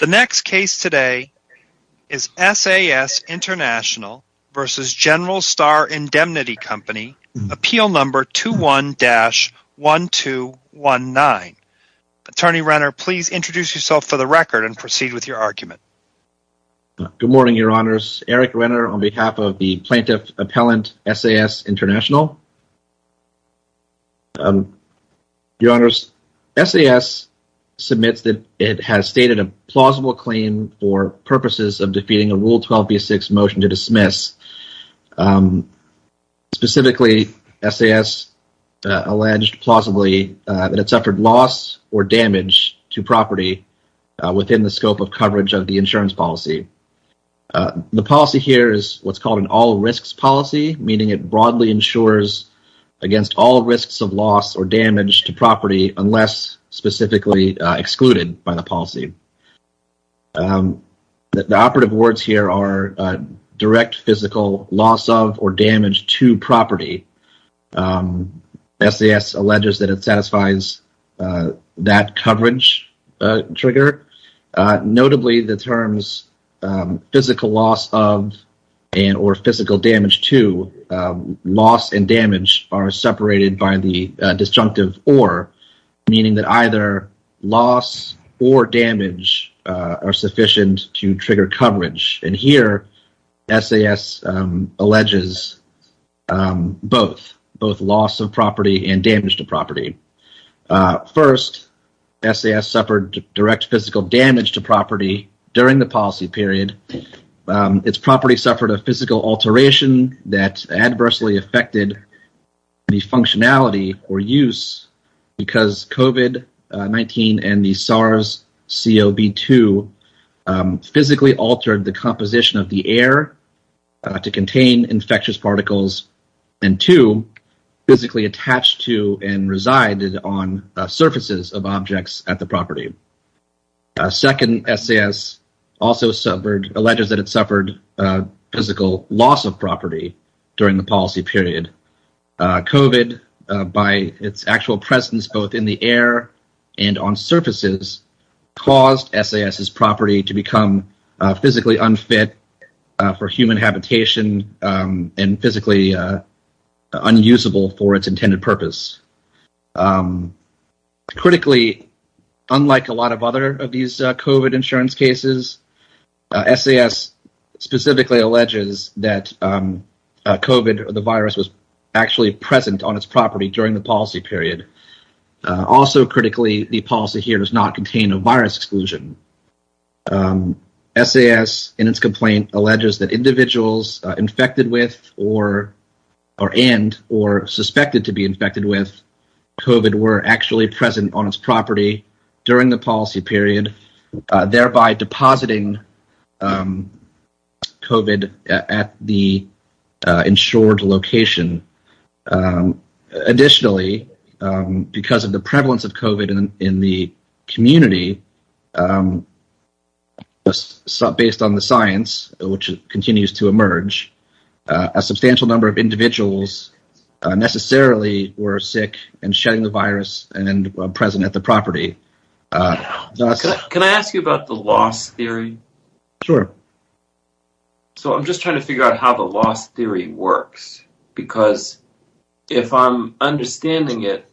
The next case today is SAS International v. General Star Indemnity Company, Appeal No. 21-1219. Attorney Renner, please introduce yourself for the record and proceed with your argument. Good morning, Your Honors. Eric Renner on behalf of the Plaintiff Appellant SAS International. Your Honors, SAS submits that it has stated a plausible claim for purposes of defeating a Rule 12b6 motion to dismiss. Specifically, SAS alleged plausibly that it suffered loss or damage to property within the scope of coverage of the insurance policy. The policy here is what's called an all risks policy, meaning it broadly ensures against all risks of loss or damage to property unless specifically excluded by the policy. The operative words here are direct physical loss of or damage to property. SAS alleges that it satisfies that coverage trigger. Notably, the terms physical loss of and or physical damage to loss and damage are separated by the disjunctive or, meaning that either loss or damage are sufficient to trigger coverage. And here SAS alleges both, both loss of property and damage to property. First, SAS suffered direct physical damage to property during the policy period. Its property suffered a physical alteration that adversely affected the functionality or use because COVID-19 and the SARS-CoV-2 physically altered the composition of the air to contain infectious particles. And two, physically attached to and resided on surfaces of objects at the property. Second, SAS also suffered, alleges that it suffered physical loss of property during the policy period. COVID, by its actual presence both in the air and on surfaces, caused SAS's property to become physically unfit for human habitation and physically unusable for its intended purpose. Critically, unlike a lot of other of these COVID insurance cases, SAS specifically alleges that COVID, the virus, was actually present on its property during the policy period. Also critically, the policy here does not contain a virus exclusion. SAS, in its complaint, alleges that individuals infected with or and or suspected to be infected with COVID were actually present on its property during the policy period, thereby depositing COVID at the insured location. Additionally, because of the prevalence of COVID in the community, based on the science which continues to emerge, a substantial number of individuals necessarily were sick and shedding the virus and present at the property. Can I ask you about the loss theory? Sure. So I'm just trying to figure out how the loss theory works, because if I'm understanding it,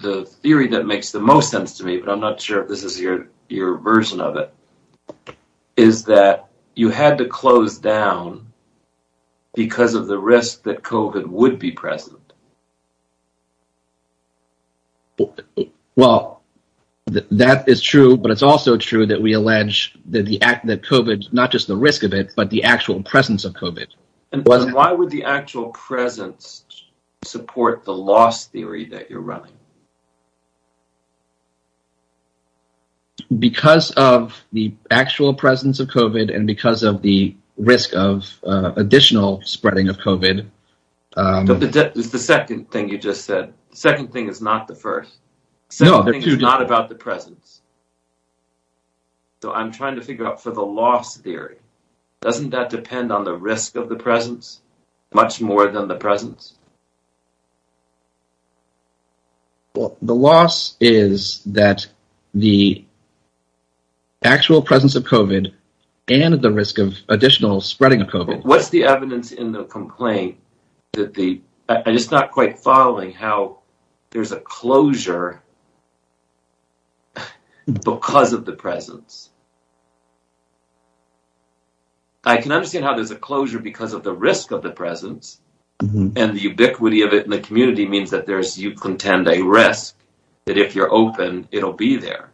the theory that makes the most sense to me, but I'm not sure if this is your version of it, is that you had to close down because of the risk that COVID would be present. Well, that is true, but it's also true that we allege that COVID, not just the risk of it, but the actual presence of COVID. And why would the actual presence support the loss theory that you're running? Because of the actual presence of COVID and because of the risk of additional spreading of COVID. It's the second thing you just said. The second thing is not the first. The second thing is not about the presence. So I'm trying to figure out for the loss theory, doesn't that depend on the risk of the presence much more than the presence? Well, the loss is that the actual presence of COVID and the risk of additional spreading of COVID. What's the evidence in the complaint? I'm just not quite following how there's a closure because of the presence. I can understand how there's a closure because of the risk of the presence, and the ubiquity of it in the community means that you contend a risk that if you're open, it'll be there.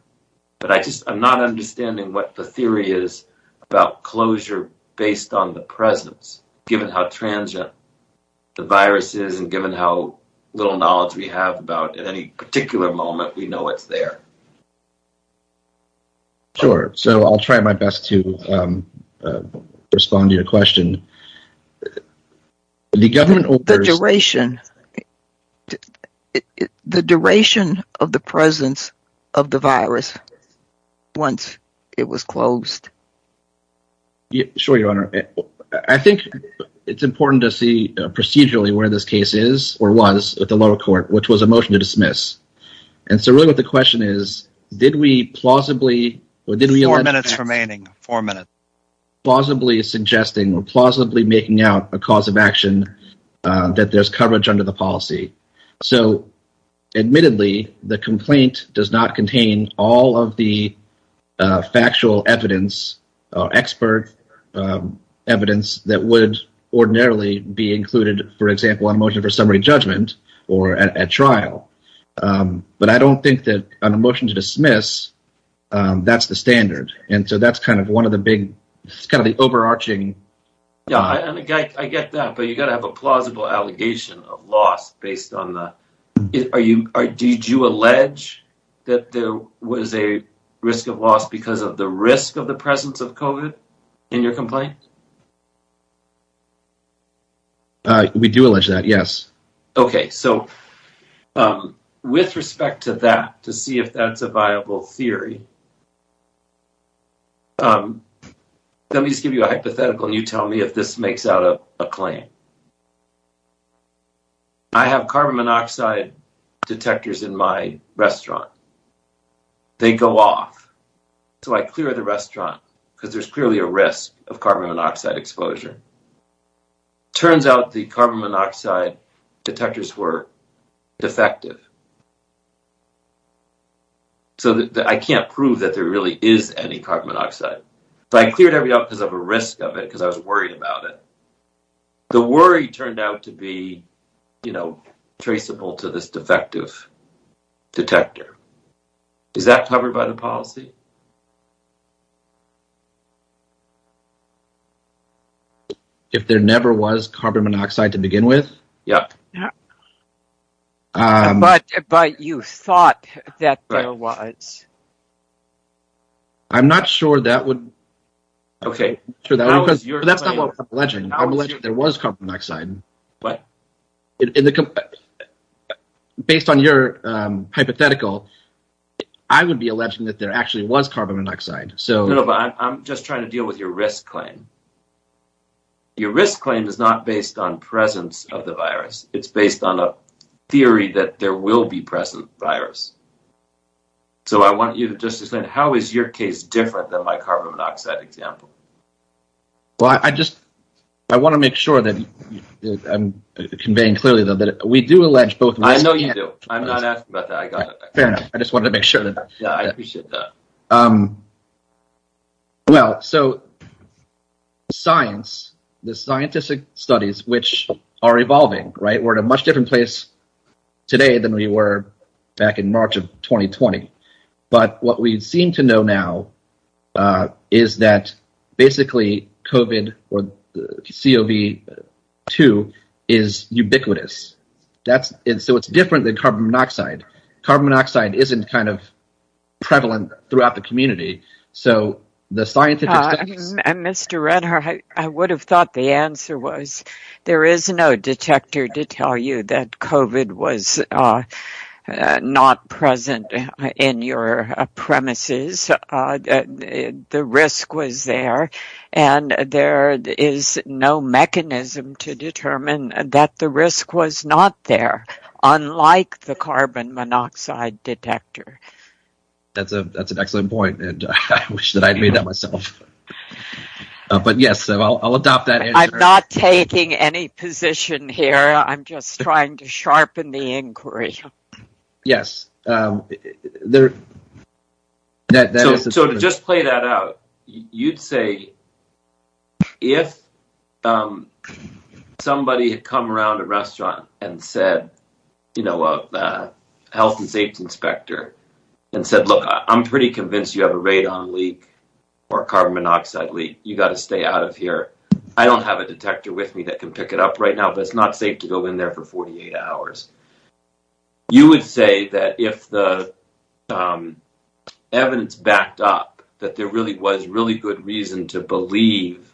But I'm not understanding what the theory is about closure based on the presence, given how transient the virus is and given how little knowledge we have about at any particular moment, we know it's there. Sure. So I'll try my best to respond to your question. The duration of the presence of the virus once it was closed. Sure, Your Honor. I think it's important to see procedurally where this case is or was at the lower court, which was a motion to dismiss. And so really what the question is, did we plausibly... Four minutes remaining. Four minutes. ...plausibly suggesting or plausibly making out a cause of action that there's coverage under the policy. So admittedly, the complaint does not contain all of the factual evidence or expert evidence that would ordinarily be included, for example, on a motion for summary judgment or at trial. But I don't think that on a motion to dismiss, that's the standard. And so that's kind of one of the big – it's kind of the overarching... Did you allege that there was a risk of loss because of the risk of the presence of COVID in your complaint? We do allege that, yes. Okay. So with respect to that, to see if that's a viable theory, let me just give you a hypothetical and you tell me if this makes out a claim. I have carbon monoxide detectors in my restaurant. They go off. So I clear the restaurant because there's clearly a risk of carbon monoxide exposure. Turns out the carbon monoxide detectors were defective. So I can't prove that there really is any carbon monoxide. So I cleared everything up because of a risk of it, because I was worried about it. The worry turned out to be traceable to this defective detector. Is that covered by the policy? If there never was carbon monoxide to begin with? Yep. But you thought that there was. I'm not sure that would... Okay. That's not what we're alleging. We're alleging that there was carbon monoxide. What? Based on your hypothetical, I would be alleging that there actually was carbon monoxide. No, but I'm just trying to deal with your risk claim. Your risk claim is not based on presence of the virus. It's based on a theory that there will be present virus. So I want you to just explain, how is your case different than my carbon monoxide example? Well, I just want to make sure that I'm conveying clearly that we do allege both risks. I know you do. I'm not asking about that. I got it. Fair enough. I just wanted to make sure. Yeah, I appreciate that. Well, so science, the scientific studies, which are evolving, right, we're in a much different place today than we were back in March of 2020. But what we seem to know now is that basically COVID or COV2 is ubiquitous. So it's different than carbon monoxide. Carbon monoxide isn't kind of prevalent throughout the community. So the scientific studies… Mr. Renner, I would have thought the answer was there is no detector to tell you that COVID was not present in your premises. The risk was there, and there is no mechanism to determine that the risk was not there, unlike the carbon monoxide detector. That's an excellent point, and I wish that I had made that myself. But yes, I'll adopt that answer. I'm not taking any position here. I'm just trying to sharpen the inquiry. Yes. So to just play that out, you'd say if somebody had come around a restaurant and said, you know, a health and safety inspector, and said, look, I'm pretty convinced you have a radon leak or carbon monoxide leak. You've got to stay out of here. I don't have a detector with me that can pick it up right now, but it's not safe to go in there for 48 hours. You would say that if the evidence backed up that there really was really good reason to believe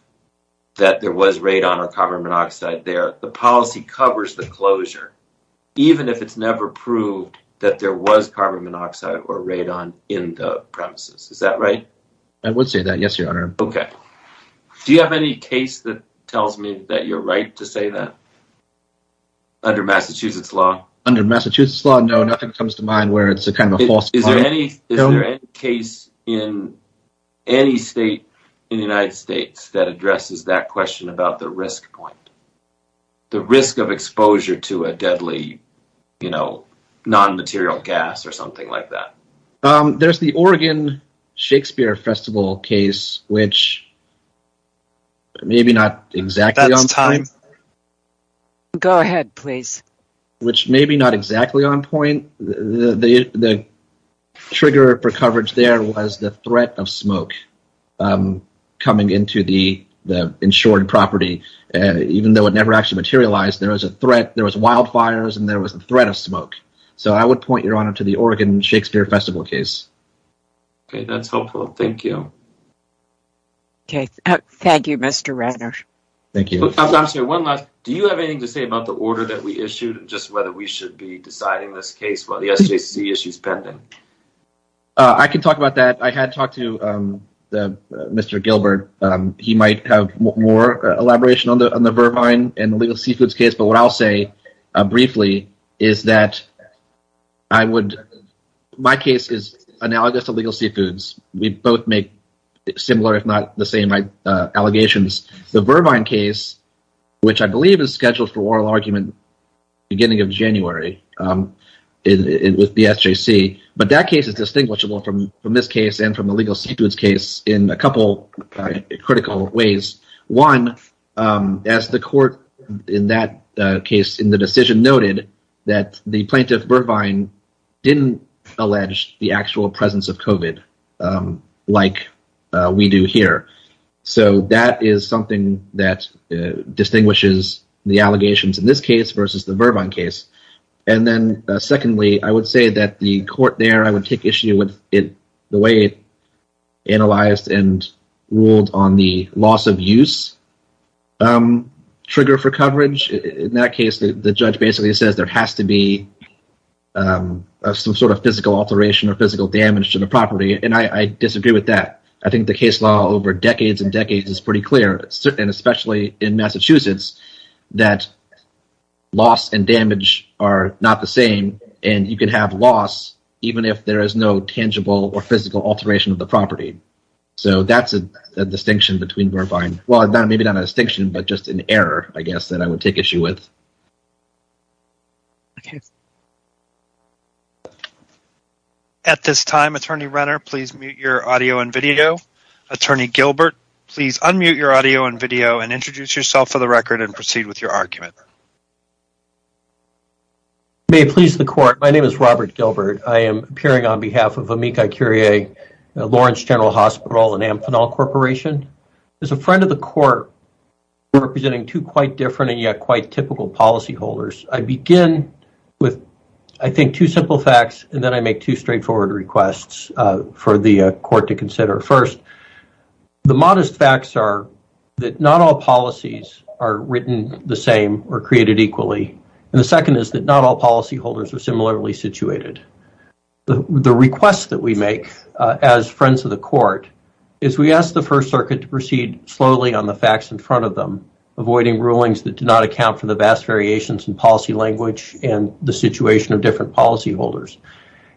that there was radon or carbon monoxide there, the policy covers the closure, even if it's never proved that there was carbon monoxide or radon in the premises. Is that right? I would say that, yes, Your Honor. Okay. Do you have any case that tells me that you're right to say that? Under Massachusetts law? Under Massachusetts law, no, nothing comes to mind where it's kind of a false claim. Is there any case in any state in the United States that addresses that question about the risk point? The risk of exposure to a deadly, you know, non-material gas or something like that? There's the Oregon Shakespeare Festival case, which maybe not exactly on point. Go ahead, please. Which maybe not exactly on point. The trigger for coverage there was the threat of smoke coming into the insured property. Even though it never actually materialized, there was a threat. There was wildfires, and there was a threat of smoke. So, I would point, Your Honor, to the Oregon Shakespeare Festival case. Okay, that's helpful. Thank you. Okay. Thank you, Mr. Ratner. Thank you. Do you have anything to say about the order that we issued, just whether we should be deciding this case while the SJC issue is pending? I can talk about that. I had talked to Mr. Gilbert. He might have more elaboration on the Vervine and the legal seafoods case, but what I'll say briefly is that I would – my case is analogous to legal seafoods. We both make similar, if not the same, allegations. The Vervine case, which I believe is scheduled for oral argument beginning of January with the SJC, but that case is distinguishable from this case and from the legal seafoods case in a couple critical ways. One, as the court in that case in the decision noted, that the plaintiff, Vervine, didn't allege the actual presence of COVID like we do here. So that is something that distinguishes the allegations in this case versus the Vervine case. And then secondly, I would say that the court there, I would take issue with the way it analyzed and ruled on the loss of use trigger for coverage. In that case, the judge basically says there has to be some sort of physical alteration or physical damage to the property, and I disagree with that. I think the case law over decades and decades is pretty clear, and especially in Massachusetts, that loss and damage are not the same, and you can have loss even if there is no tangible or physical alteration of the property. So that's a distinction between Vervine – well, maybe not a distinction, but just an error I guess that I would take issue with. Okay. At this time, Attorney Renner, please mute your audio and video. Attorney Gilbert, please unmute your audio and video and introduce yourself for the record and proceed with your argument. May it please the court, my name is Robert Gilbert. I am appearing on behalf of Amica Curie, Lawrence General Hospital, and Amphenol Corporation. As a friend of the court, representing two quite different and yet quite typical policyholders, I begin with, I think, two simple facts, and then I make two straightforward requests for the court to consider. First, the modest facts are that not all policies are written the same or created equally, and the second is that not all policyholders are similarly situated. The request that we make as friends of the court is we ask the First Circuit to proceed slowly on the facts in front of them, avoiding rulings that do not account for the vast variations in policy language and the situation of different policyholders.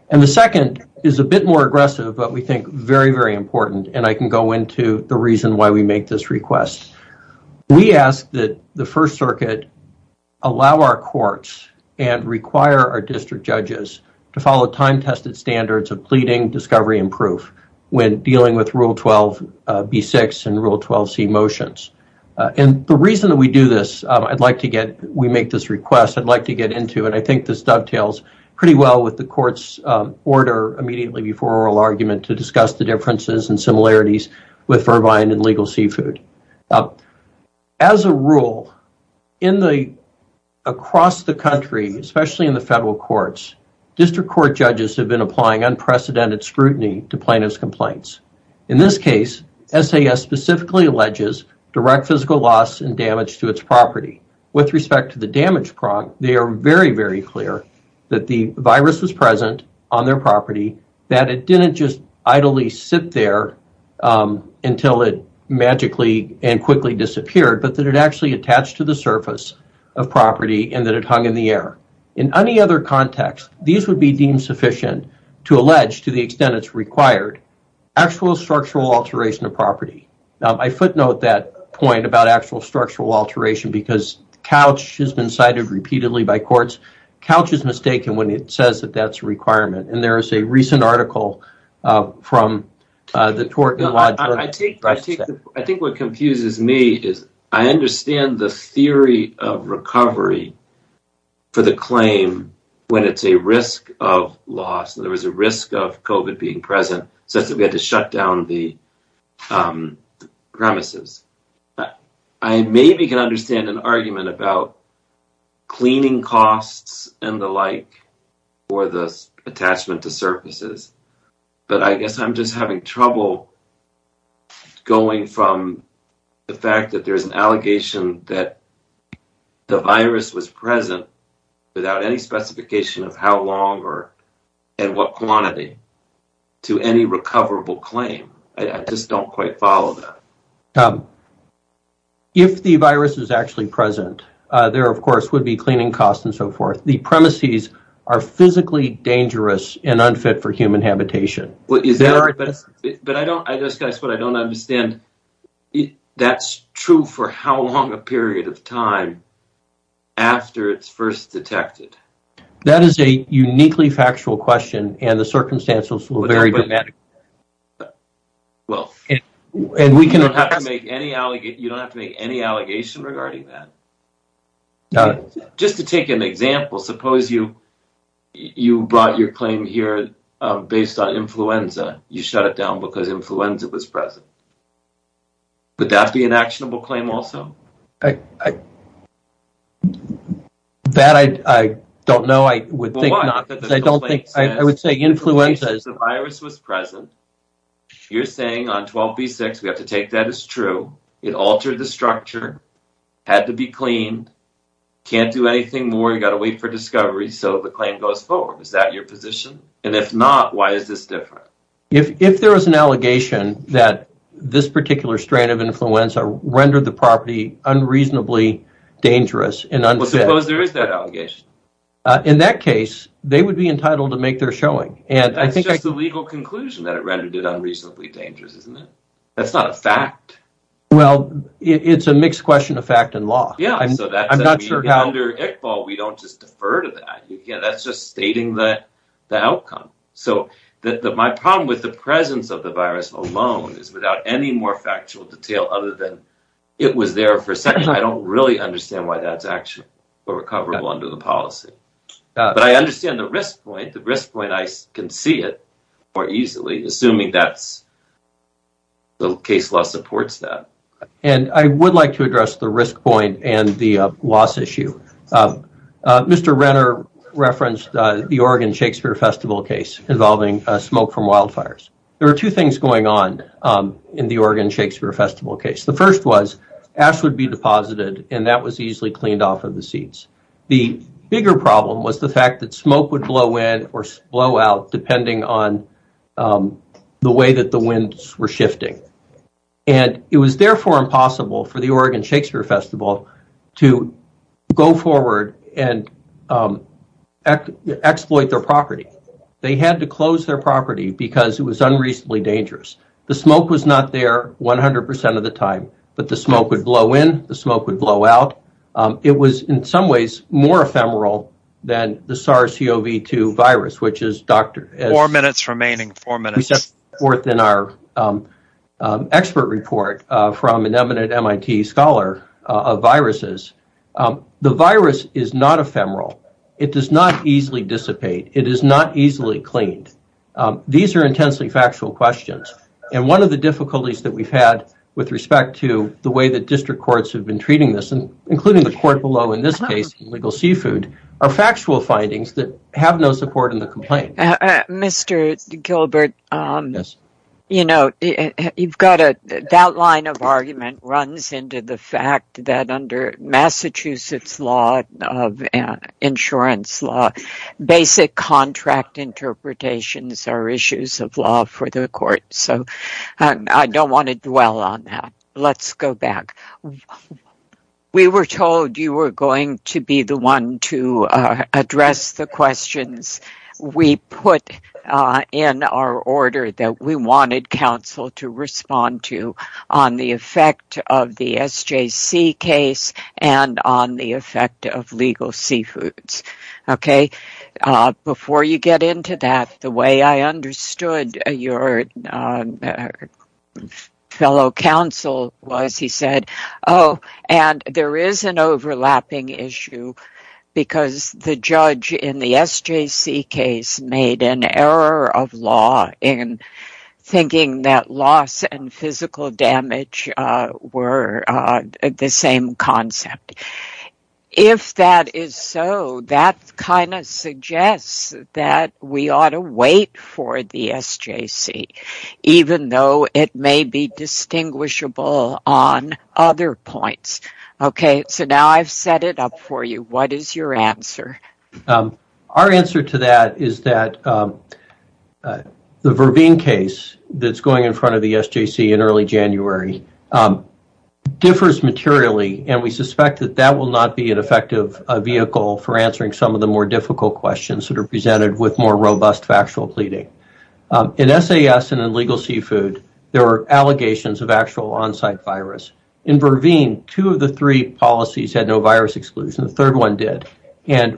And the second is a bit more aggressive, but we think very, very important, and I can go into the reason why we make this request. We ask that the First Circuit allow our courts and require our district judges to follow time-tested standards of pleading, discovery, and proof when dealing with Rule 12b6 and Rule 12c motions. And the reason that we do this, I'd like to get, we make this request, I'd like to get into, and I think this dovetails pretty well with the court's order immediately before oral argument to discuss the differences and similarities with Vervine and legal seafood. As a rule, in the, across the country, especially in the federal courts, district court judges have been applying unprecedented scrutiny to plaintiff's complaints. In this case, SAS specifically alleges direct physical loss and damage to its property. With respect to the damage prompt, they are very, very clear that the virus was present on their property, that it didn't just idly sit there until it magically and quickly disappeared, but that it actually attached to the surface of property and that it hung in the air. In any other context, these would be deemed sufficient to allege, to the extent it's required, actual structural alteration of property. Now, I footnote that point about actual structural alteration because couch has been cited repeatedly by courts. Couch is mistaken when it says that that's a requirement, and there is a recent article from the Tort and Lodge. I think what confuses me is I understand the theory of recovery for the claim when it's a risk of loss. There was a risk of COVID being present such that we had to shut down the premises. I maybe can understand an argument about cleaning costs and the like for the attachment to surfaces, but I guess I'm just having trouble going from the fact that there's an allegation that the virus was present without any specification of how long and what quantity to any recoverable claim. I just don't quite follow that. If the virus is actually present, there, of course, would be cleaning costs and so forth. The premises are physically dangerous and unfit for human habitation. But I don't understand. That's true for how long a period of time after it's first detected? That is a uniquely factual question, and the circumstances were very dramatic. You don't have to make any allegation regarding that. Just to take an example, suppose you brought your claim here based on influenza. You shut it down because influenza was present. Would that be an actionable claim also? That I don't know. I would say influenza is present. You're saying on 12B6, we have to take that as true. It altered the structure, had to be cleaned, can't do anything more. You've got to wait for discovery, so the claim goes forward. Is that your position? And if not, why is this different? If there is an allegation that this particular strand of influenza rendered the property unreasonably dangerous and unfit… Suppose there is that allegation. In that case, they would be entitled to make their showing. But that's just a legal conclusion that it rendered it unreasonably dangerous, isn't it? That's not a fact. Well, it's a mixed question of fact and law. Under ICPOL, we don't just defer to that. That's just stating the outcome. My problem with the presence of the virus alone is without any more factual detail other than it was there for a second. I don't really understand why that's actually recoverable under the policy. But I understand the risk point. The risk point, I can see it more easily, assuming the case law supports that. And I would like to address the risk point and the loss issue. Mr. Renner referenced the Oregon Shakespeare Festival case involving smoke from wildfires. There are two things going on in the Oregon Shakespeare Festival case. The first was ash would be deposited, and that was easily cleaned off of the seeds. The bigger problem was the fact that smoke would blow in or blow out depending on the way that the winds were shifting. And it was therefore impossible for the Oregon Shakespeare Festival to go forward and exploit their property. They had to close their property because it was unreasonably dangerous. The smoke was not there 100% of the time, but the smoke would blow in, the smoke would blow out. It was in some ways more ephemeral than the SARS-CoV-2 virus. Four minutes remaining. We set forth in our expert report from an eminent MIT scholar of viruses. The virus is not ephemeral. It does not easily dissipate. It is not easily cleaned. These are intensely factual questions. One of the difficulties that we have had with respect to the way that district courts have been treating this, including the court below in this case in legal seafood, are factual findings that have no support in the complaint. Mr. Gilbert, that line of argument runs into the fact that under Massachusetts law, insurance law, basic contract interpretations are issues of law for the court. I don't want to dwell on that. Let's go back. We were told you were going to be the one to address the questions. We put in our order that we wanted counsel to respond to on the effect of the SJC case and on the effect of legal seafoods. Before you get into that, the way I understood your fellow counsel was he said, oh, and there is an overlapping issue because the judge in the SJC case made an error of law in thinking that loss and physical damage were the same concept. If that is so, that kind of suggests that we ought to wait for the SJC, even though it may be distinguishable on other points. Now I have set it up for you. What is your answer? Our answer to that is that the Verveen case that is going in front of the SJC in early January differs materially and we suspect that that will not be an effective vehicle for answering some of the more difficult questions that are presented with more robust factual pleading. In SAS and in legal seafood, there were allegations of actual onsite virus. In Verveen, two of the three policies had no virus exclusion.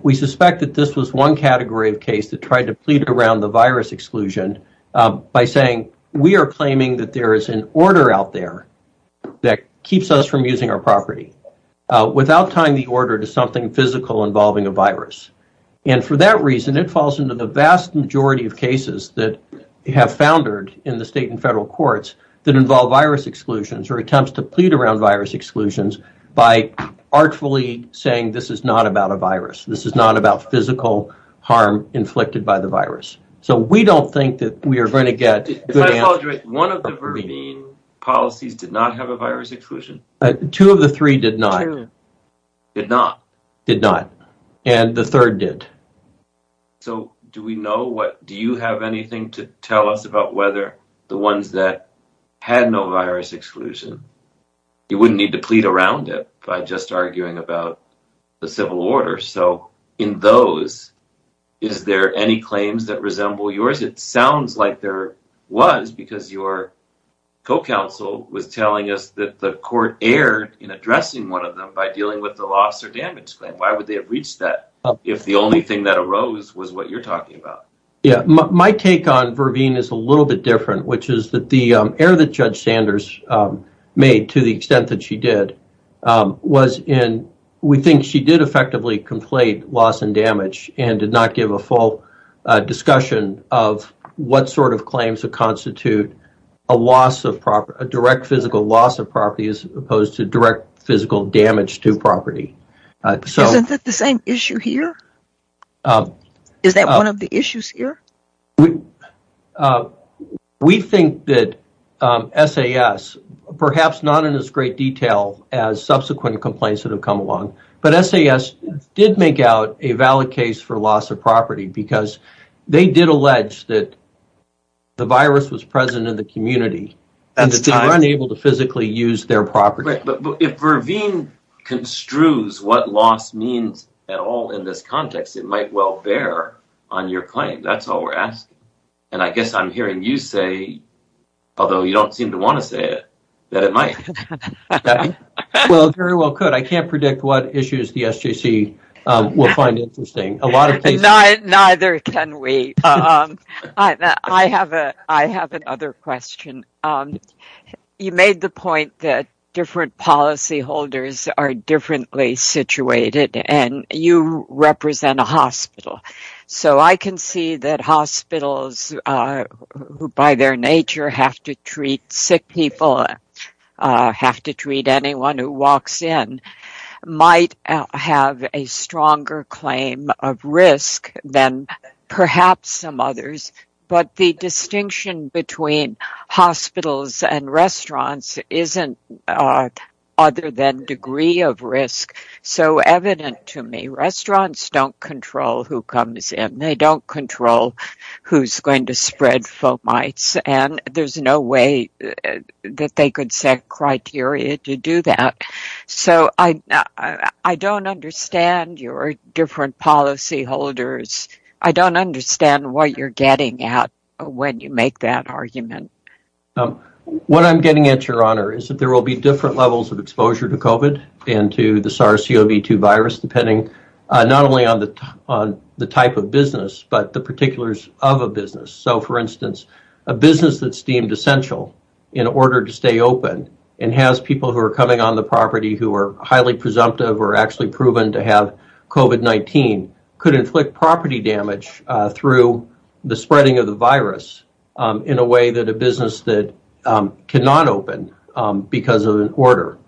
We suspect that this was one category of case that tried to plead around the virus exclusion by saying we are claiming that there is an order out there that keeps us from using our property without tying the order to something physical involving a virus. For that reason, it falls into the vast majority of cases that have foundered in the state and federal courts that involve virus exclusions or attempts to plead around virus exclusions by artfully saying this is not about a virus. This is not about physical harm inflicted by the virus. One of the Verveen policies did not have a virus exclusion? Two of the three did not. Did not? And the third did. So do we know what, do you have anything to tell us about whether the ones that had no virus exclusion, you wouldn't need to plead around it by just arguing about the civil order. In those, is there any claims that resemble yours? It sounds like there was because your co-counsel was telling us that the court erred in addressing one of them by dealing with the loss or damage claim. Why would they have reached that if the only thing that arose was what you're talking about? My take on Verveen is a little bit different, which is that the error that Judge Sanders made to the extent that she did was in, we think she did effectively complain loss and damage and did not give a full discussion of what sort of claims to constitute a direct physical loss of property as opposed to direct physical damage to property. Isn't that the same issue here? Is that one of the issues here? We think that SAS, perhaps not in as great detail as subsequent complaints that have come along, but SAS did make out a valid case for loss of property because they did allege that the virus was present in the community and that they were unable to physically use their property. If Verveen construes what loss means at all in this context, it might well bear on your claim. That's all we're asking. I guess I'm hearing you say, although you don't seem to want to say it, that it might. Well, it very well could. I can't predict what issues the SJC will find interesting. Neither can we. I have another question. You made the point that different policyholders are differently situated, and you represent a hospital. So I can see that hospitals, who by their nature have to treat sick people, have to treat anyone who walks in, might have a stronger claim of risk than perhaps some others. But the distinction between hospitals and restaurants isn't other than degree of risk. So evident to me, restaurants don't control who comes in. They don't control who's going to spread fomites, and there's no way that they could set criteria to do that. So I don't understand your different policyholders. I don't understand what you're getting at when you make that argument. What I'm getting at, Your Honor, is that there will be different levels of exposure to COVID and to the SARS-CoV-2 virus, depending not only on the type of business, but the particulars of a business. So, for instance, a business that's deemed essential in order to stay open and has people who are coming on the property who are highly presumptive or actually proven to have COVID-19 could inflict property damage through the spreading of the virus in a way that a business that cannot open because of an order.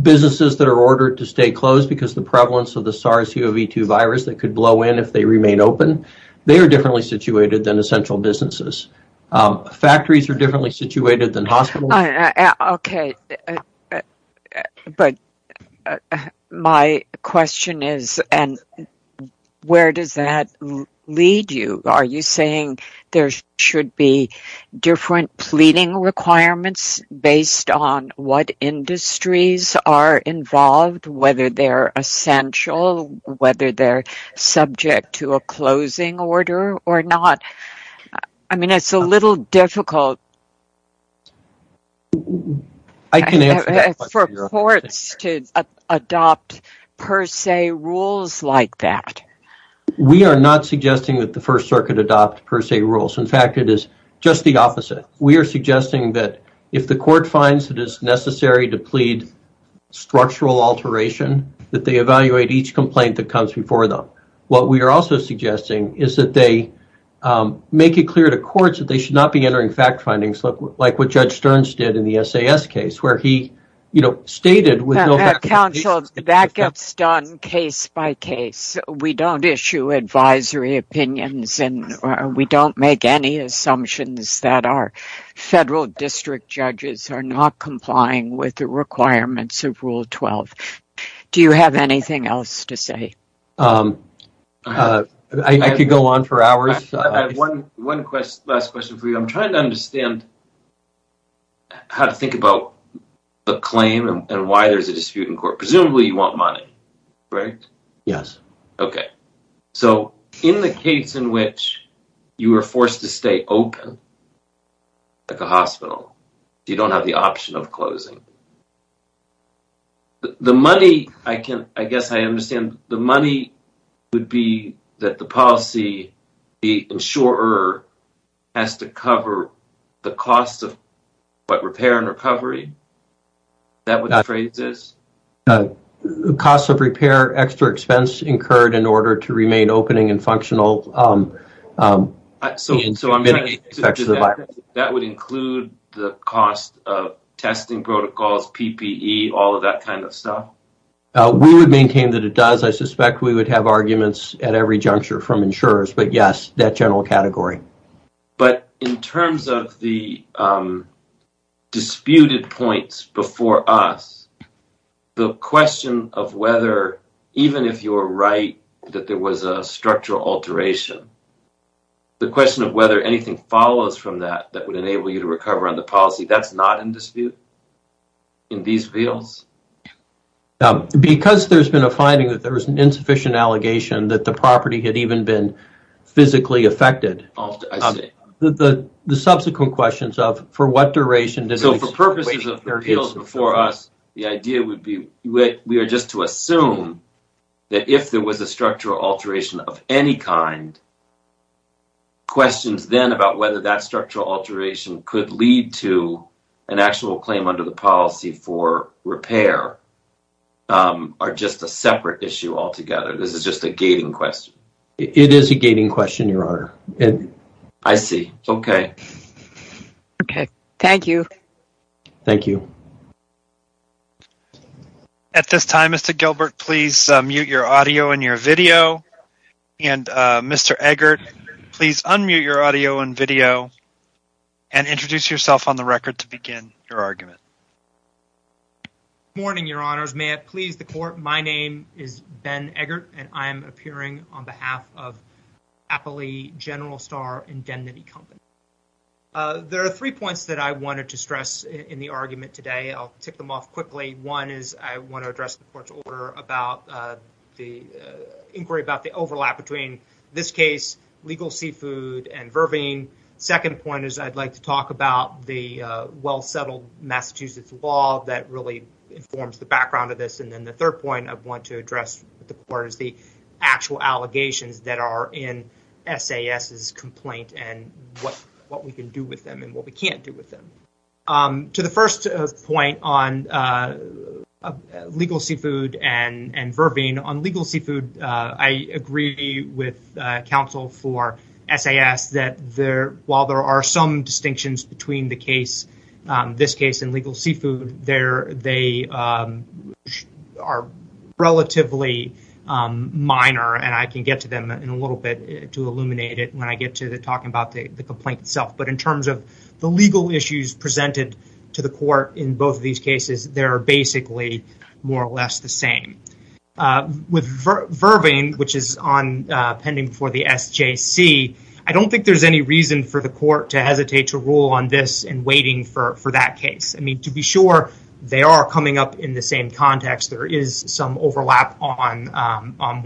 Businesses that are ordered to stay closed because the prevalence of the SARS-CoV-2 virus that could blow in if they remain open, they are differently situated than essential businesses. Factories are differently situated than hospitals. OK. But my question is, where does that lead you? Are you saying there should be different pleading requirements based on what industries are involved, whether they're essential, whether they're subject to a closing order or not? I mean, it's a little difficult for courts to adopt per se rules like that. We are not suggesting that the First Circuit adopt per se rules. In fact, it is just the opposite. We are suggesting that if the court finds it is necessary to plead structural alteration, that they evaluate each complaint that comes before them. What we are also suggesting is that they make it clear to courts that they should not be entering fact findings like what Judge Stearns did in the SAS case where he stated... In my case, we don't issue advisory opinions and we don't make any assumptions that our federal district judges are not complying with the requirements of Rule 12. Do you have anything else to say? I could go on for hours. I have one last question for you. I'm trying to understand how to think about the claim and why there's a dispute in court. Presumably you want money, right? Yes. Okay. So, in the case in which you are forced to stay open, like a hospital, you don't have the option of closing. The money, I guess I understand, the money would be that the policy, the insurer has to cover the cost of what? Repair and recovery? Is that what the phrase is? Cost of repair, extra expense incurred in order to remain opening and functional. So, that would include the cost of testing protocols, PPE, all of that kind of stuff? We would maintain that it does. I suspect we would have arguments at every juncture from insurers, but yes, that general category. But in terms of the disputed points before us, the question of whether, even if you're right that there was a structural alteration, the question of whether anything follows from that that would enable you to recover on the policy, that's not in dispute in these fields? Because there's been a finding that there was an insufficient allegation that the property had even been physically affected, the subsequent questions of for what duration... So, for purposes of appeals before us, the idea would be we are just to assume that if there was a structural alteration of any kind, questions then about whether that structural alteration could lead to an actual claim under the policy for repair. Are just a separate issue altogether. This is just a gating question. It is a gating question, Your Honor. I see. Okay. Okay. Thank you. Thank you. At this time, Mr. Gilbert, please mute your audio and your video. And Mr. Eggert, please unmute your audio and video and introduce yourself on the record to begin your argument. Good morning, Your Honors. May it please the court, my name is Ben Eggert, and I'm appearing on behalf of Appley General Star Indemnity Company. There are three points that I wanted to stress in the argument today. I'll tick them off quickly. One is I want to address the court's order about the inquiry about the overlap between this case, legal seafood, and Vervine. Second point is I'd like to talk about the well-settled Massachusetts law that really informs the background of this. And then the third point I want to address with the court is the actual allegations that are in SAS's complaint and what we can do with them and what we can't do with them. To the first point on legal seafood and Vervine, on legal seafood, I agree with counsel for SAS that while there are some distinctions between this case and legal seafood, they are relatively minor, and I can get to them in a little bit to illuminate it when I get to talking about the complaint itself. But in terms of the legal issues presented to the court in both of these cases, they are basically more or less the same. With Vervine, which is pending before the SJC, I don't think there's any reason for the court to hesitate to rule on this and waiting for that case. I mean, to be sure, they are coming up in the same context. There is some overlap on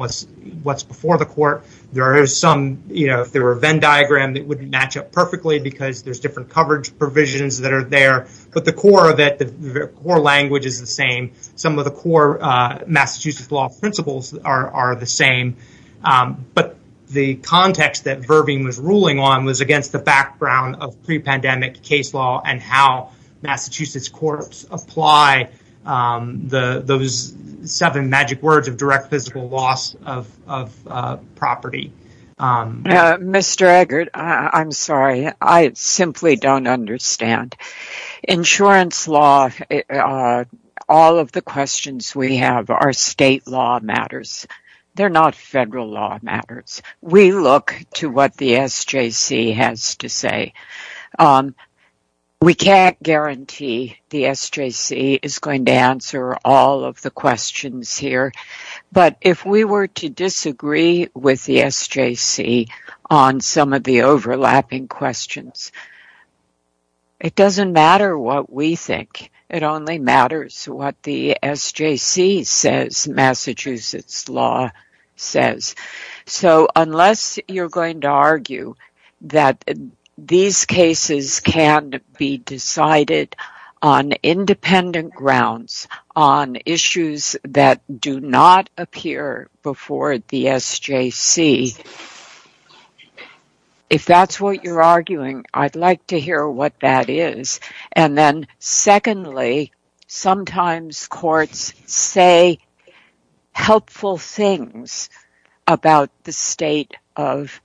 what's before the court. If there were a Venn diagram, it wouldn't match up perfectly because there's different coverage provisions that are there. But the core of it, the core language is the same. Some of the core Massachusetts law principles are the same. But the context that Vervine was ruling on was against the background of pre-pandemic case law and how Massachusetts courts apply those seven magic words of direct physical loss of property. Mr. Eggert, I'm sorry. I simply don't understand. Insurance law, all of the questions we have are state law matters. They're not federal law matters. We look to what the SJC has to say. We can't guarantee the SJC is going to answer all of the questions here. But if we were to disagree with the SJC on some of the overlapping questions, it doesn't matter what we think. It only matters what the SJC says Massachusetts law says. So unless you're going to argue that these cases can be decided on independent grounds, on issues that do not appear before the SJC, if that's what you're arguing, I'd like to hear what that is. And then secondly, sometimes courts say helpful things about the state of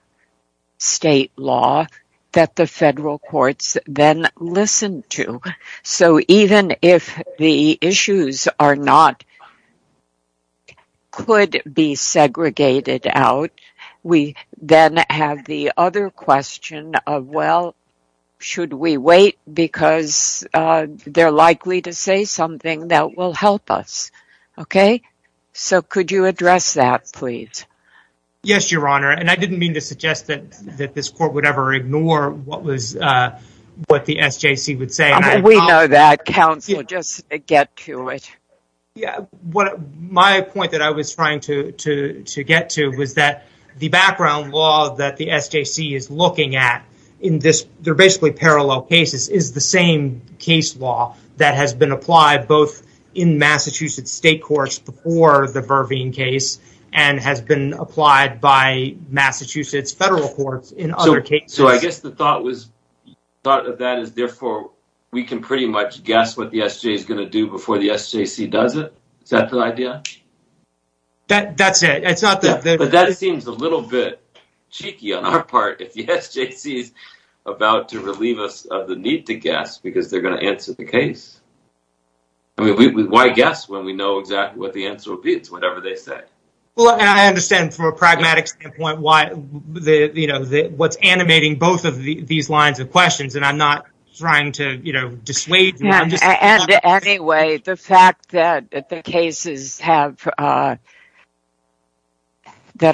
state law that the federal courts then listen to. So even if the issues could be segregated out, we then have the other question of, well, should we wait? Because they're likely to say something that will help us. So could you address that, please? Yes, Your Honor. And I didn't mean to suggest that this court would ever ignore what the SJC would say. We know that, counsel. Just get to it. My point that I was trying to get to was that the background law that the SJC is looking at, they're basically parallel cases, is the same case law that has been applied both in Massachusetts state courts before the Verveen case and has been applied by Massachusetts federal courts in other cases. So I guess the thought of that is therefore we can pretty much guess what the SJC is going to do before the SJC does it. Is that the idea? That's it. But that seems a little bit cheeky on our part if the SJC is about to relieve us of the need to guess because they're going to answer the case. Why guess when we know exactly what the answer will be to whatever they say? Well, I understand from a pragmatic standpoint what's animating both of these lines of questions and I'm not trying to dissuade you. And anyway, the fact that the cases that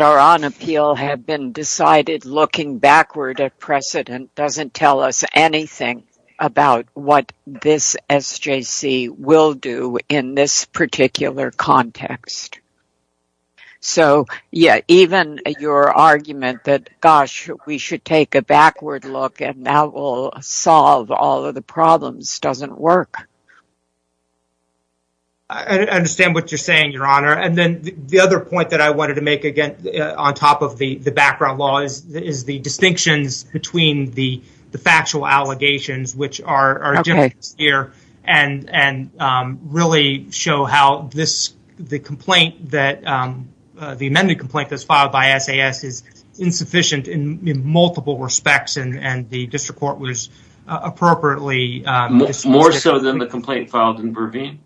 are on appeal have been decided looking backward at precedent doesn't tell us anything about what this SJC will do in this particular context. So yeah, even your argument that, gosh, we should take a backward look and that will solve all of the problems doesn't work. I understand what you're saying, Your Honor. And then the other point that I wanted to make, again, on top of the background law, is the distinctions between the factual allegations which are here and really show how the amendment complaint that's filed by SAS is insufficient in multiple respects and the district court was appropriately… More so than the complaint filed in Verveen?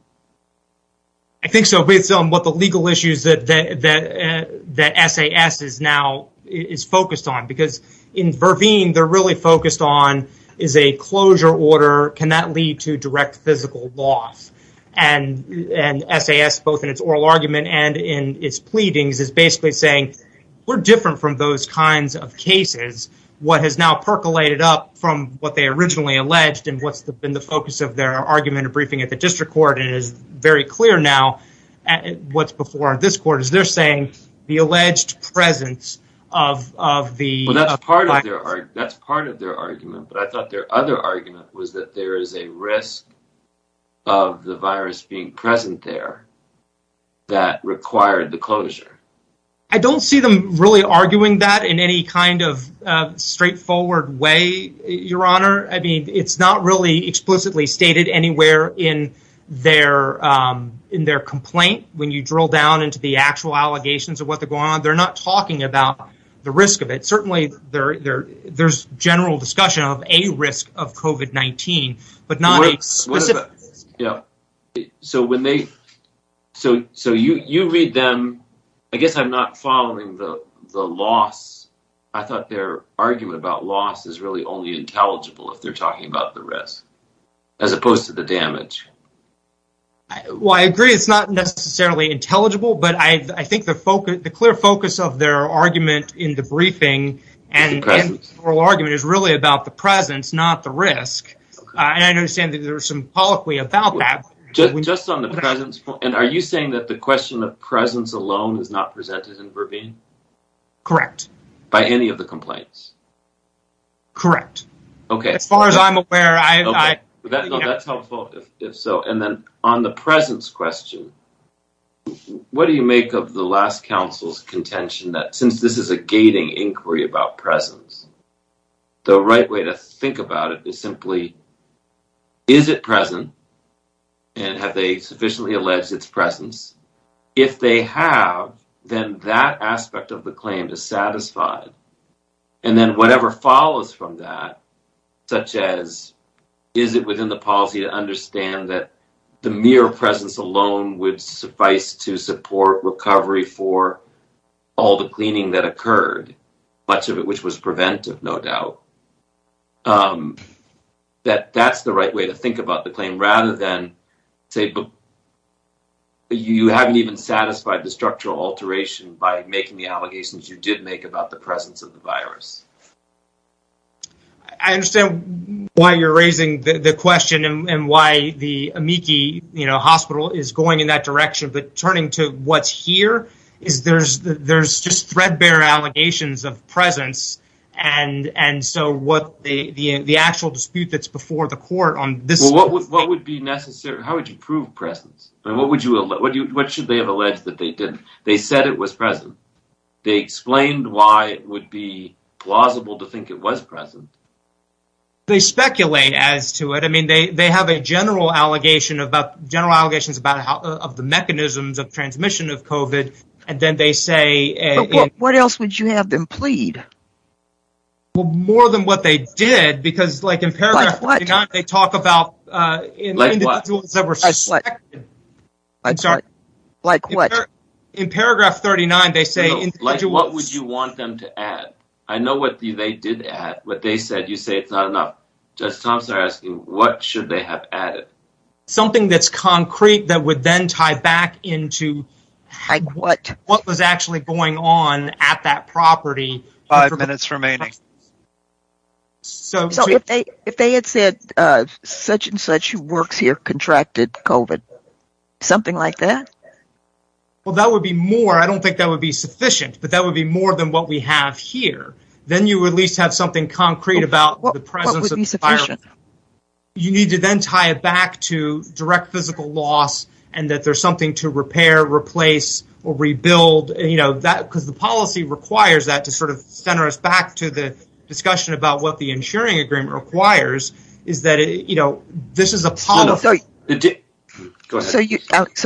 I think so based on what the legal issues that SAS is now focused on because in Verveen they're really focused on is a closure order, can that lead to direct physical loss? And SAS, both in its oral argument and in its pleadings, is basically saying we're different from those kinds of cases. What has now percolated up from what they originally alleged and what's been the focus of their argument or briefing at the district court and is very clear now what's before this court is they're saying the alleged presence of the… But I thought their other argument was that there is a risk of the virus being present there that required the closure. So you read them… I guess I'm not following the loss. I thought their argument about loss is really only intelligible if they're talking about the risk as opposed to the damage. Well, I agree it's not necessarily intelligible, but I think the clear focus of their argument in the briefing and oral argument is really about the presence, not the risk. And I understand that there's some policy about that. Just on the presence, are you saying that the question of presence alone is not presented in Verveen? Correct. By any of the complaints? Correct. Okay. As far as I'm aware, I… That's helpful if so. And then on the presence question, what do you make of the last counsel's contention that since this is a gating inquiry about presence, the right way to think about it is simply is it present and have they sufficiently alleged its presence? If they have, then that aspect of the claim is satisfied. And then whatever follows from that, such as is it within the policy to understand that the mere presence alone would suffice to support recovery for all the cleaning that occurred, much of it which was preventive, no doubt. That that's the right way to think about the claim rather than say you haven't even satisfied the structural alteration by making the allegations you did make about the presence of the virus. I understand why you're raising the question and why the amici hospital is going in that direction. But turning to what's here is there's just threadbare allegations of presence. And so what the actual dispute that's before the court on this… How would you prove presence? What should they have alleged that they did? They said it was present. They explained why it would be plausible to think it was present. They speculate as to it. I mean, they have a general allegations about the mechanisms of transmission of COVID. And then they say… What else would you have them plead? Well, more than what they did, because like in paragraph 39, they talk about… Like what? I'm sorry. Like what? In paragraph 39, they say… Like what would you want them to add? I know what they did add, what they said. You say it's not enough. Judge Thompson is asking what should they have added? Something that's concrete that would then tie back into… Like what? What was actually going on at that property. Five minutes remaining. So if they had said such and such who works here contracted COVID, something like that? Well, that would be more. I don't think that would be sufficient, but that would be more than what we have here. Then you would at least have something concrete about the presence of the virus. What would be sufficient? So,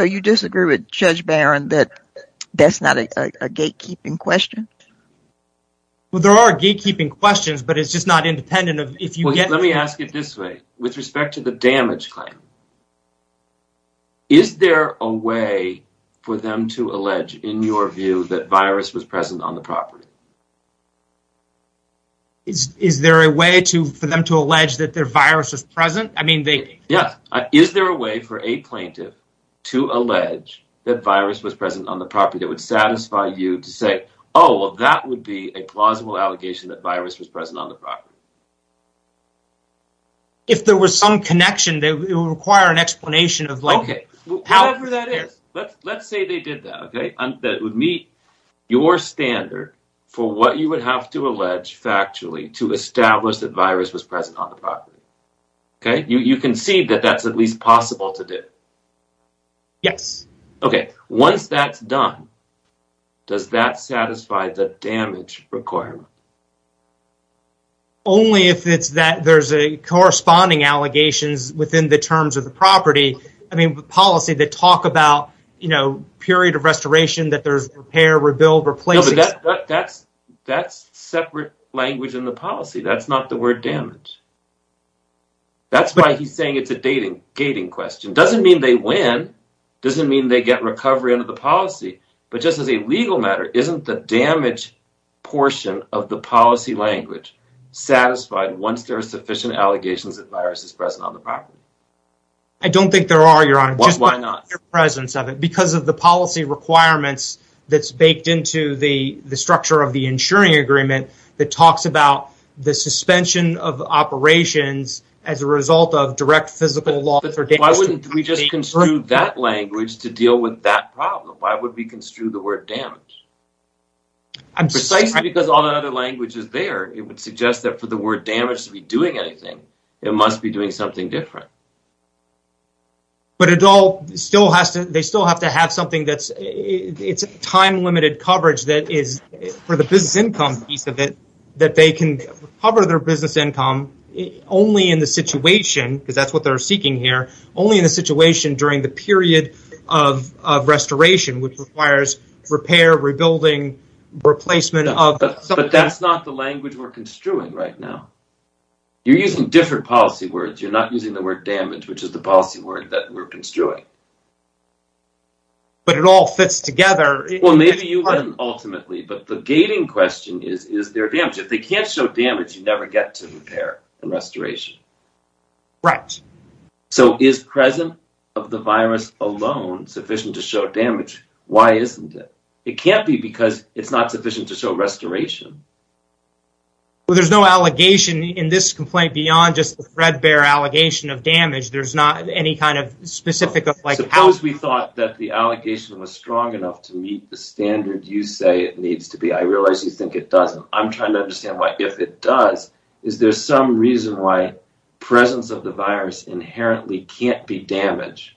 you disagree with Judge Barron that that's not a gatekeeping question? Well, there are gatekeeping questions, but it's just not independent of… Let me ask it this way. With respect to the damage claim, is there a way for them to allege, in your view, that virus was present on the property? Is there a way for them to allege that the virus was present? Is there a way for a plaintiff to allege that virus was present on the property that would satisfy you to say, oh, that would be a plausible allegation that virus was present on the property? If there was some connection, it would require an explanation. Okay. Whatever that is, let's say they did that. That would meet your standard for what you would have to allege factually to establish that virus was present on the property. You concede that that's at least possible to do? Yes. Okay. Once that's done, does that satisfy the damage requirement? Only if it's that there's corresponding allegations within the terms of the property. I mean, policy that talk about, you know, period of restoration, that there's repair, rebuild, replacing… No, but that's separate language in the policy. That's not the word damage. That's why he's saying it's a dating question. Doesn't mean they win. Doesn't mean they get recovery under the policy. But just as a legal matter, isn't the damage portion of the policy language satisfied once there are sufficient allegations that virus is present on the property? I don't think there are, Your Honor. Why not? Because of the policy requirements that's baked into the structure of the insuring agreement that talks about the suspension of operations as a result of direct physical loss or damage… Why wouldn't we just construe that language to deal with that problem? Why would we construe the word damage? Precisely because all the other language is there. It would suggest that for the word damage to be doing anything, it must be doing something different. But it all still has to… they still have to have something that's… it's time-limited coverage that is for the business income piece of it, that they can cover their business income only in the situation, because that's what they're seeking here, only in the situation during the period of restoration, which requires repair, rebuilding, replacement of… You're using different policy words. You're not using the word damage, which is the policy word that we're construing. But it all fits together. Well, maybe you win ultimately, but the gating question is, is there damage? If they can't show damage, you never get to repair and restoration. Right. So is presence of the virus alone sufficient to show damage? Why isn't it? It can't be because it's not sufficient to show restoration. Well, there's no allegation in this complaint beyond just the threadbare allegation of damage. There's not any kind of specific… Suppose we thought that the allegation was strong enough to meet the standard you say it needs to be. I realize you think it doesn't. I'm trying to understand why, if it does, is there some reason why presence of the virus inherently can't be damage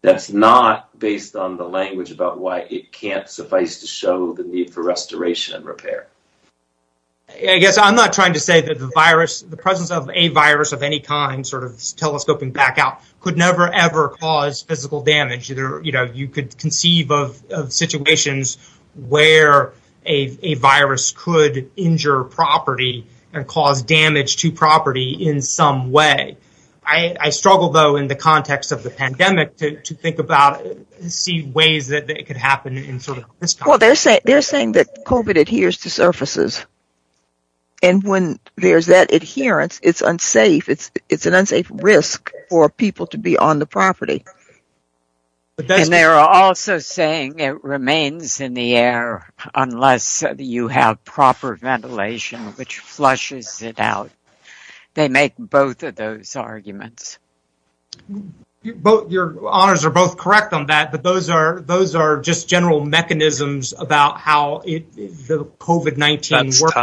that's not based on the language about why it can't suffice to show the need for restoration and repair? I guess I'm not trying to say that the presence of a virus of any kind sort of telescoping back out could never, ever cause physical damage. You could conceive of situations where a virus could injure property and cause damage to property in some way. I struggle, though, in the context of the pandemic to think about and see ways that it could happen in sort of this context. Well, they're saying that COVID adheres to surfaces. And when there's that adherence, it's unsafe. It's an unsafe risk for people to be on the property. And they're also saying it remains in the air unless you have proper ventilation, which flushes it out. They make both of those arguments. Your honors are both correct on that, but those are just general mechanisms about how the COVID-19 works.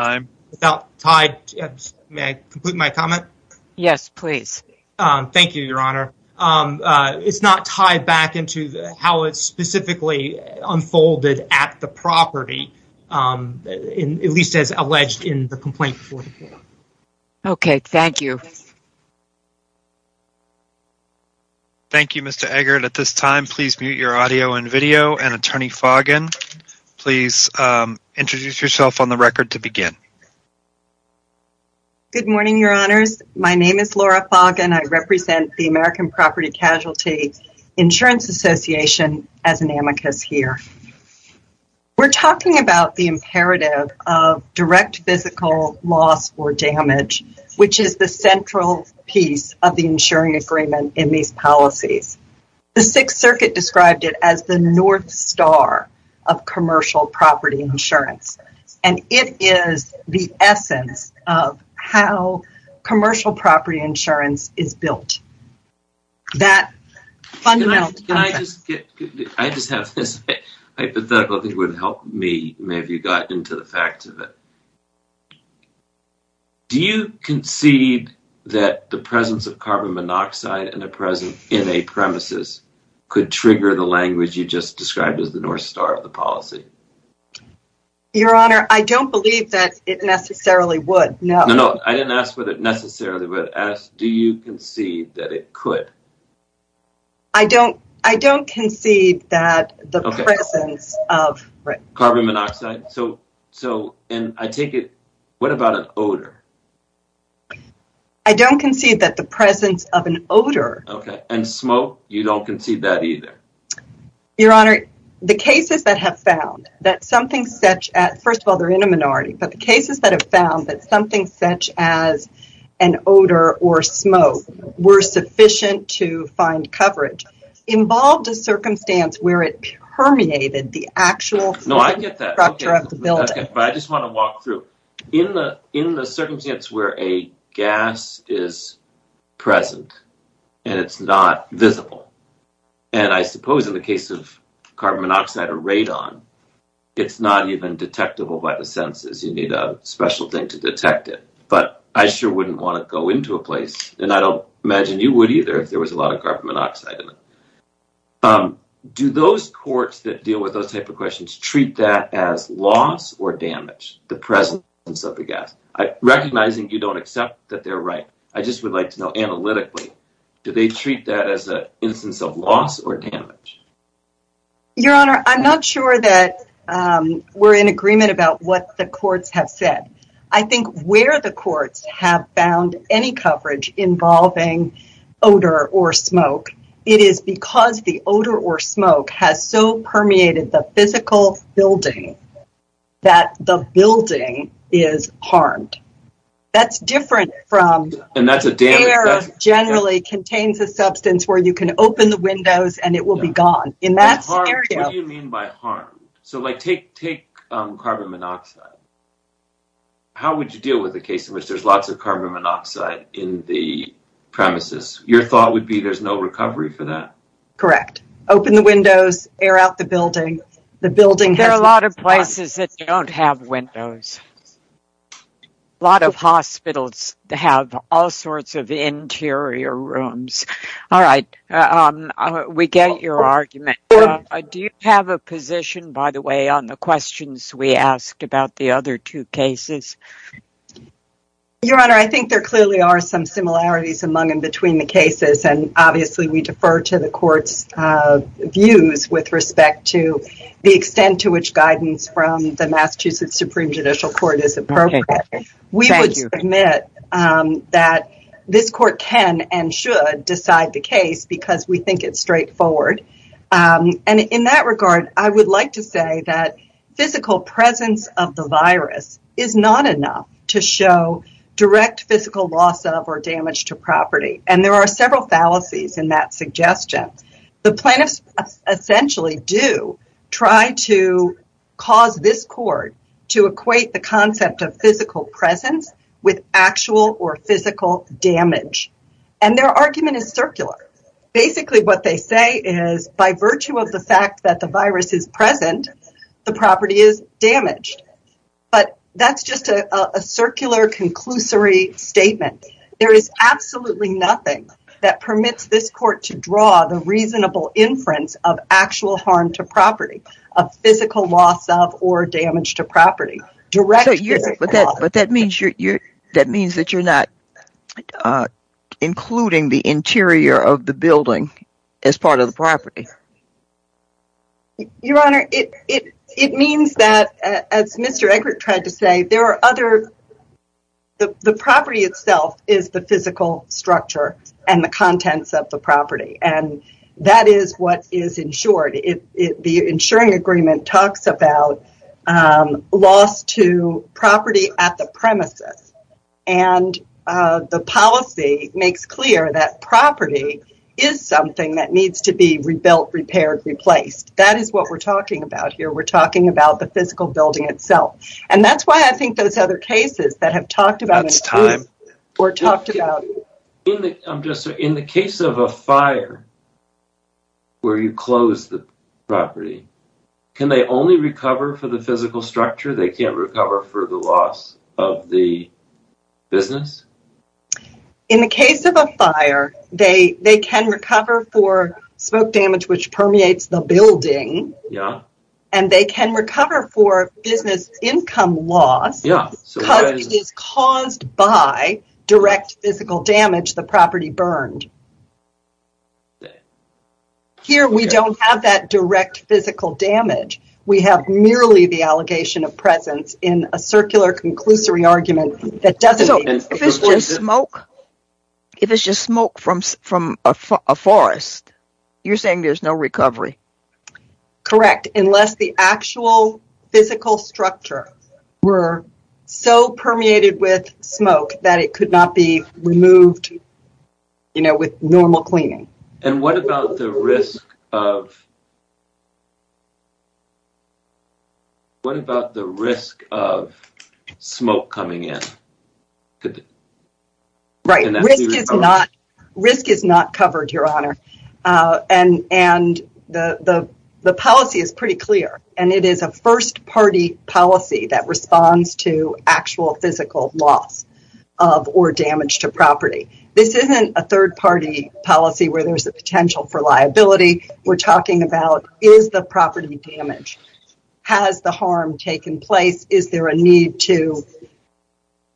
May I complete my comment? Yes, please. Thank you, Your Honor. It's not tied back into how it specifically unfolded at the property, at least as alleged in the complaint. Okay, thank you. Thank you, Mr. Eggert. At this time, please mute your audio and video. And Attorney Foggin, please introduce yourself on the record to begin. Good morning, Your Honors. My name is Laura Foggin. I represent the American Property Casualty Insurance Association as an amicus here. We're talking about the imperative of direct physical loss or damage, which is the central piece of the insuring agreement in these policies. The Sixth Circuit described it as the North Star of commercial property insurance. And it is the essence of how commercial property insurance is built. I just have this hypothetical. I think it would help me if you got into the facts of it. Do you concede that the presence of carbon monoxide in a premises could trigger the language you just described as the North Star of the policy? Your Honor, I don't believe that it necessarily would. No. I didn't ask whether it necessarily would. I asked, do you concede that it could? I don't concede that the presence of… Carbon monoxide. So, and I take it, what about an odor? I don't concede that the presence of an odor… Okay. And smoke? You don't concede that either? Your Honor, the cases that have found that something such as, first of all, they're in a minority, but the cases that have found that something such as an odor or smoke were sufficient to find coverage involved a circumstance where it permeated the actual structure of the building. No, I get that. But I just want to walk through. In the circumstance where a gas is present and it's not visible, and I suppose in the case of carbon monoxide or radon, it's not even detectable by the senses. You need a special thing to detect it, but I sure wouldn't want to go into a place, and I don't imagine you would either if there was a lot of carbon monoxide in it. Do those courts that deal with those type of questions treat that as loss or damage, the presence of the gas? Recognizing you don't accept that they're right, I just would like to know analytically, do they treat that as an instance of loss or damage? Your Honor, I'm not sure that we're in agreement about what the courts have said. I think where the courts have found any coverage involving odor or smoke, it is because the odor or smoke has so permeated the physical building that the building is harmed. That's different from… And that's a damage… …air generally contains a substance where you can open the windows and it will be gone. In that scenario… What do you mean by harmed? So, like, take carbon monoxide. How would you deal with a case in which there's lots of carbon monoxide in the premises? Your thought would be there's no recovery for that. Correct. Open the windows, air out the building, the building has… There are a lot of places that don't have windows. A lot of hospitals have all sorts of interior rooms. All right, we get your argument. Do you have a position, by the way, on the questions we asked about the other two cases? Your Honor, I think there clearly are some similarities among and between the cases, and obviously we defer to the court's views with respect to the extent to which guidance from the Massachusetts Supreme Judicial Court is appropriate. We would submit that this court can and should decide the case because we think it's straightforward. And in that regard, I would like to say that physical presence of the virus is not enough to show direct physical loss of or damage to property. And there are several fallacies in that suggestion. The plaintiffs essentially do try to cause this court to equate the concept of physical presence with actual or physical damage. And their argument is circular. Basically what they say is by virtue of the fact that the virus is present, the property is damaged. But that's just a circular, conclusory statement. There is absolutely nothing that permits this court to draw the reasonable inference of actual harm to property, of physical loss of or damage to property. But that means that you're not including the interior of the building as part of the property. Your Honor, it means that, as Mr. Egbert tried to say, the property itself is the physical structure and the contents of the property. And that is what is insured. The insuring agreement talks about loss to property at the premises. And the policy makes clear that property is something that needs to be rebuilt, repaired, replaced. That is what we're talking about here. We're talking about the physical building itself. And that's why I think those other cases that have talked about it. That's time. In the case of a fire, where you close the property, can they only recover for the physical structure? They can't recover for the loss of the business? In the case of a fire, they can recover for smoke damage, which permeates the building. And they can recover for business income loss, which is caused by direct physical damage to the property burned. Here, we don't have that direct physical damage. We have merely the allegation of presence in a circular conclusory argument that doesn't... So, if it's just smoke, if it's just smoke from a forest, you're saying there's no recovery? Correct, unless the actual physical structure were so permeated with smoke that it could not be removed. You know, with normal cleaning. And what about the risk of... What about the risk of smoke coming in? Right. Risk is not covered, Your Honor. And the policy is pretty clear. And it is a first-party policy that responds to actual physical loss of or damage to property. This isn't a third-party policy where there's a potential for liability. We're talking about, is the property damaged? Has the harm taken place? Is there a need to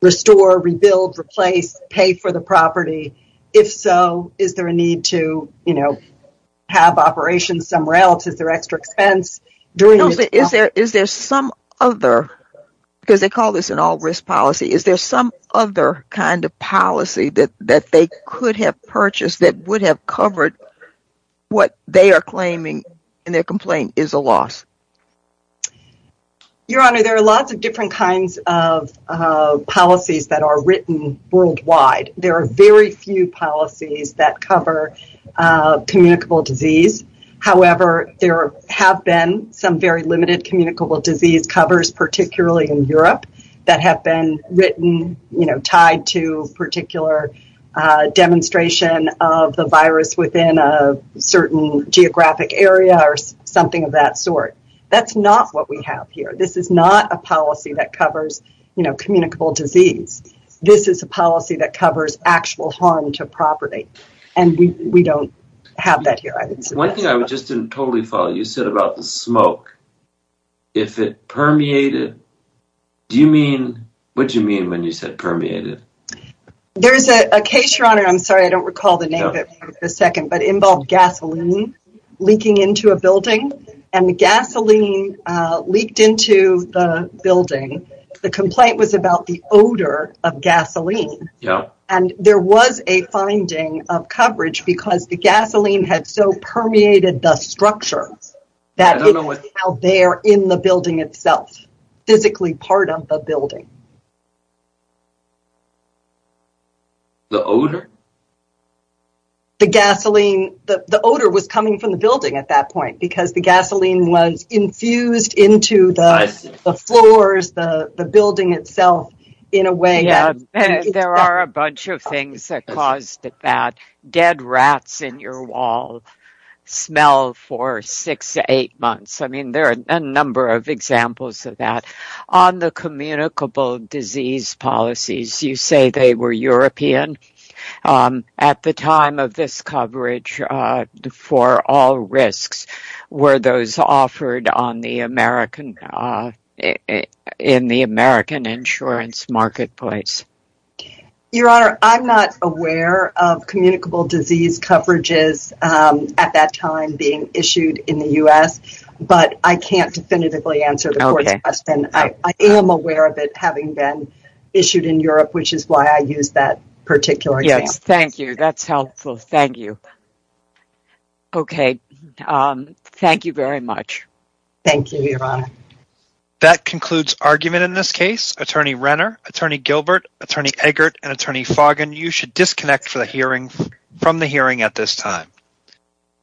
restore, rebuild, replace, pay for the property? If so, is there a need to, you know, have operations somewhere else? Is there extra expense? Is there some other, because they call this an all-risk policy, is there some other kind of policy that they could have purchased that would have covered what they are claiming in their complaint is a loss? Your Honor, there are lots of different kinds of policies that are written worldwide. There are very few policies that cover communicable disease. However, there have been some very limited communicable disease covers, particularly in Europe, that have been written, you know, tied to particular demonstration of the virus within a certain geographic area or something of that sort. That's not what we have here. This is not a policy that covers, you know, communicable disease. This is a policy that covers actual harm to property. And we don't have that here. One thing I just didn't totally follow, you said about the smoke. If it permeated, do you mean, what did you mean when you said permeated? There's a case, Your Honor, I'm sorry I don't recall the name of it for a second, but it involved gasoline leaking into a building, and the gasoline leaked into the building. The complaint was about the odor of gasoline. And there was a finding of coverage because the gasoline had so permeated the structure that it was now there in the building itself, physically part of the building. The odor? The gasoline, the odor was coming from the building at that point because the gasoline was infused into the floors, the building itself, in a way. There are a bunch of things that caused that. Dead rats in your wall smell for six to eight months. I mean, there are a number of examples of that. On the communicable disease policies, you say they were European. At the time of this coverage, for all risks, were those offered in the American insurance marketplace? Your Honor, I'm not aware of communicable disease coverages at that time being issued in the U.S., but I can't definitively answer the Court's question. I am aware of it having been issued in Europe, which is why I used that particular example. Yes, thank you. That's helpful. Thank you. Okay. Thank you very much. Thank you, Your Honor. That concludes argument in this case. Attorney Renner, Attorney Gilbert, Attorney Eggert, and Attorney Foggin, you should disconnect from the hearing at this time.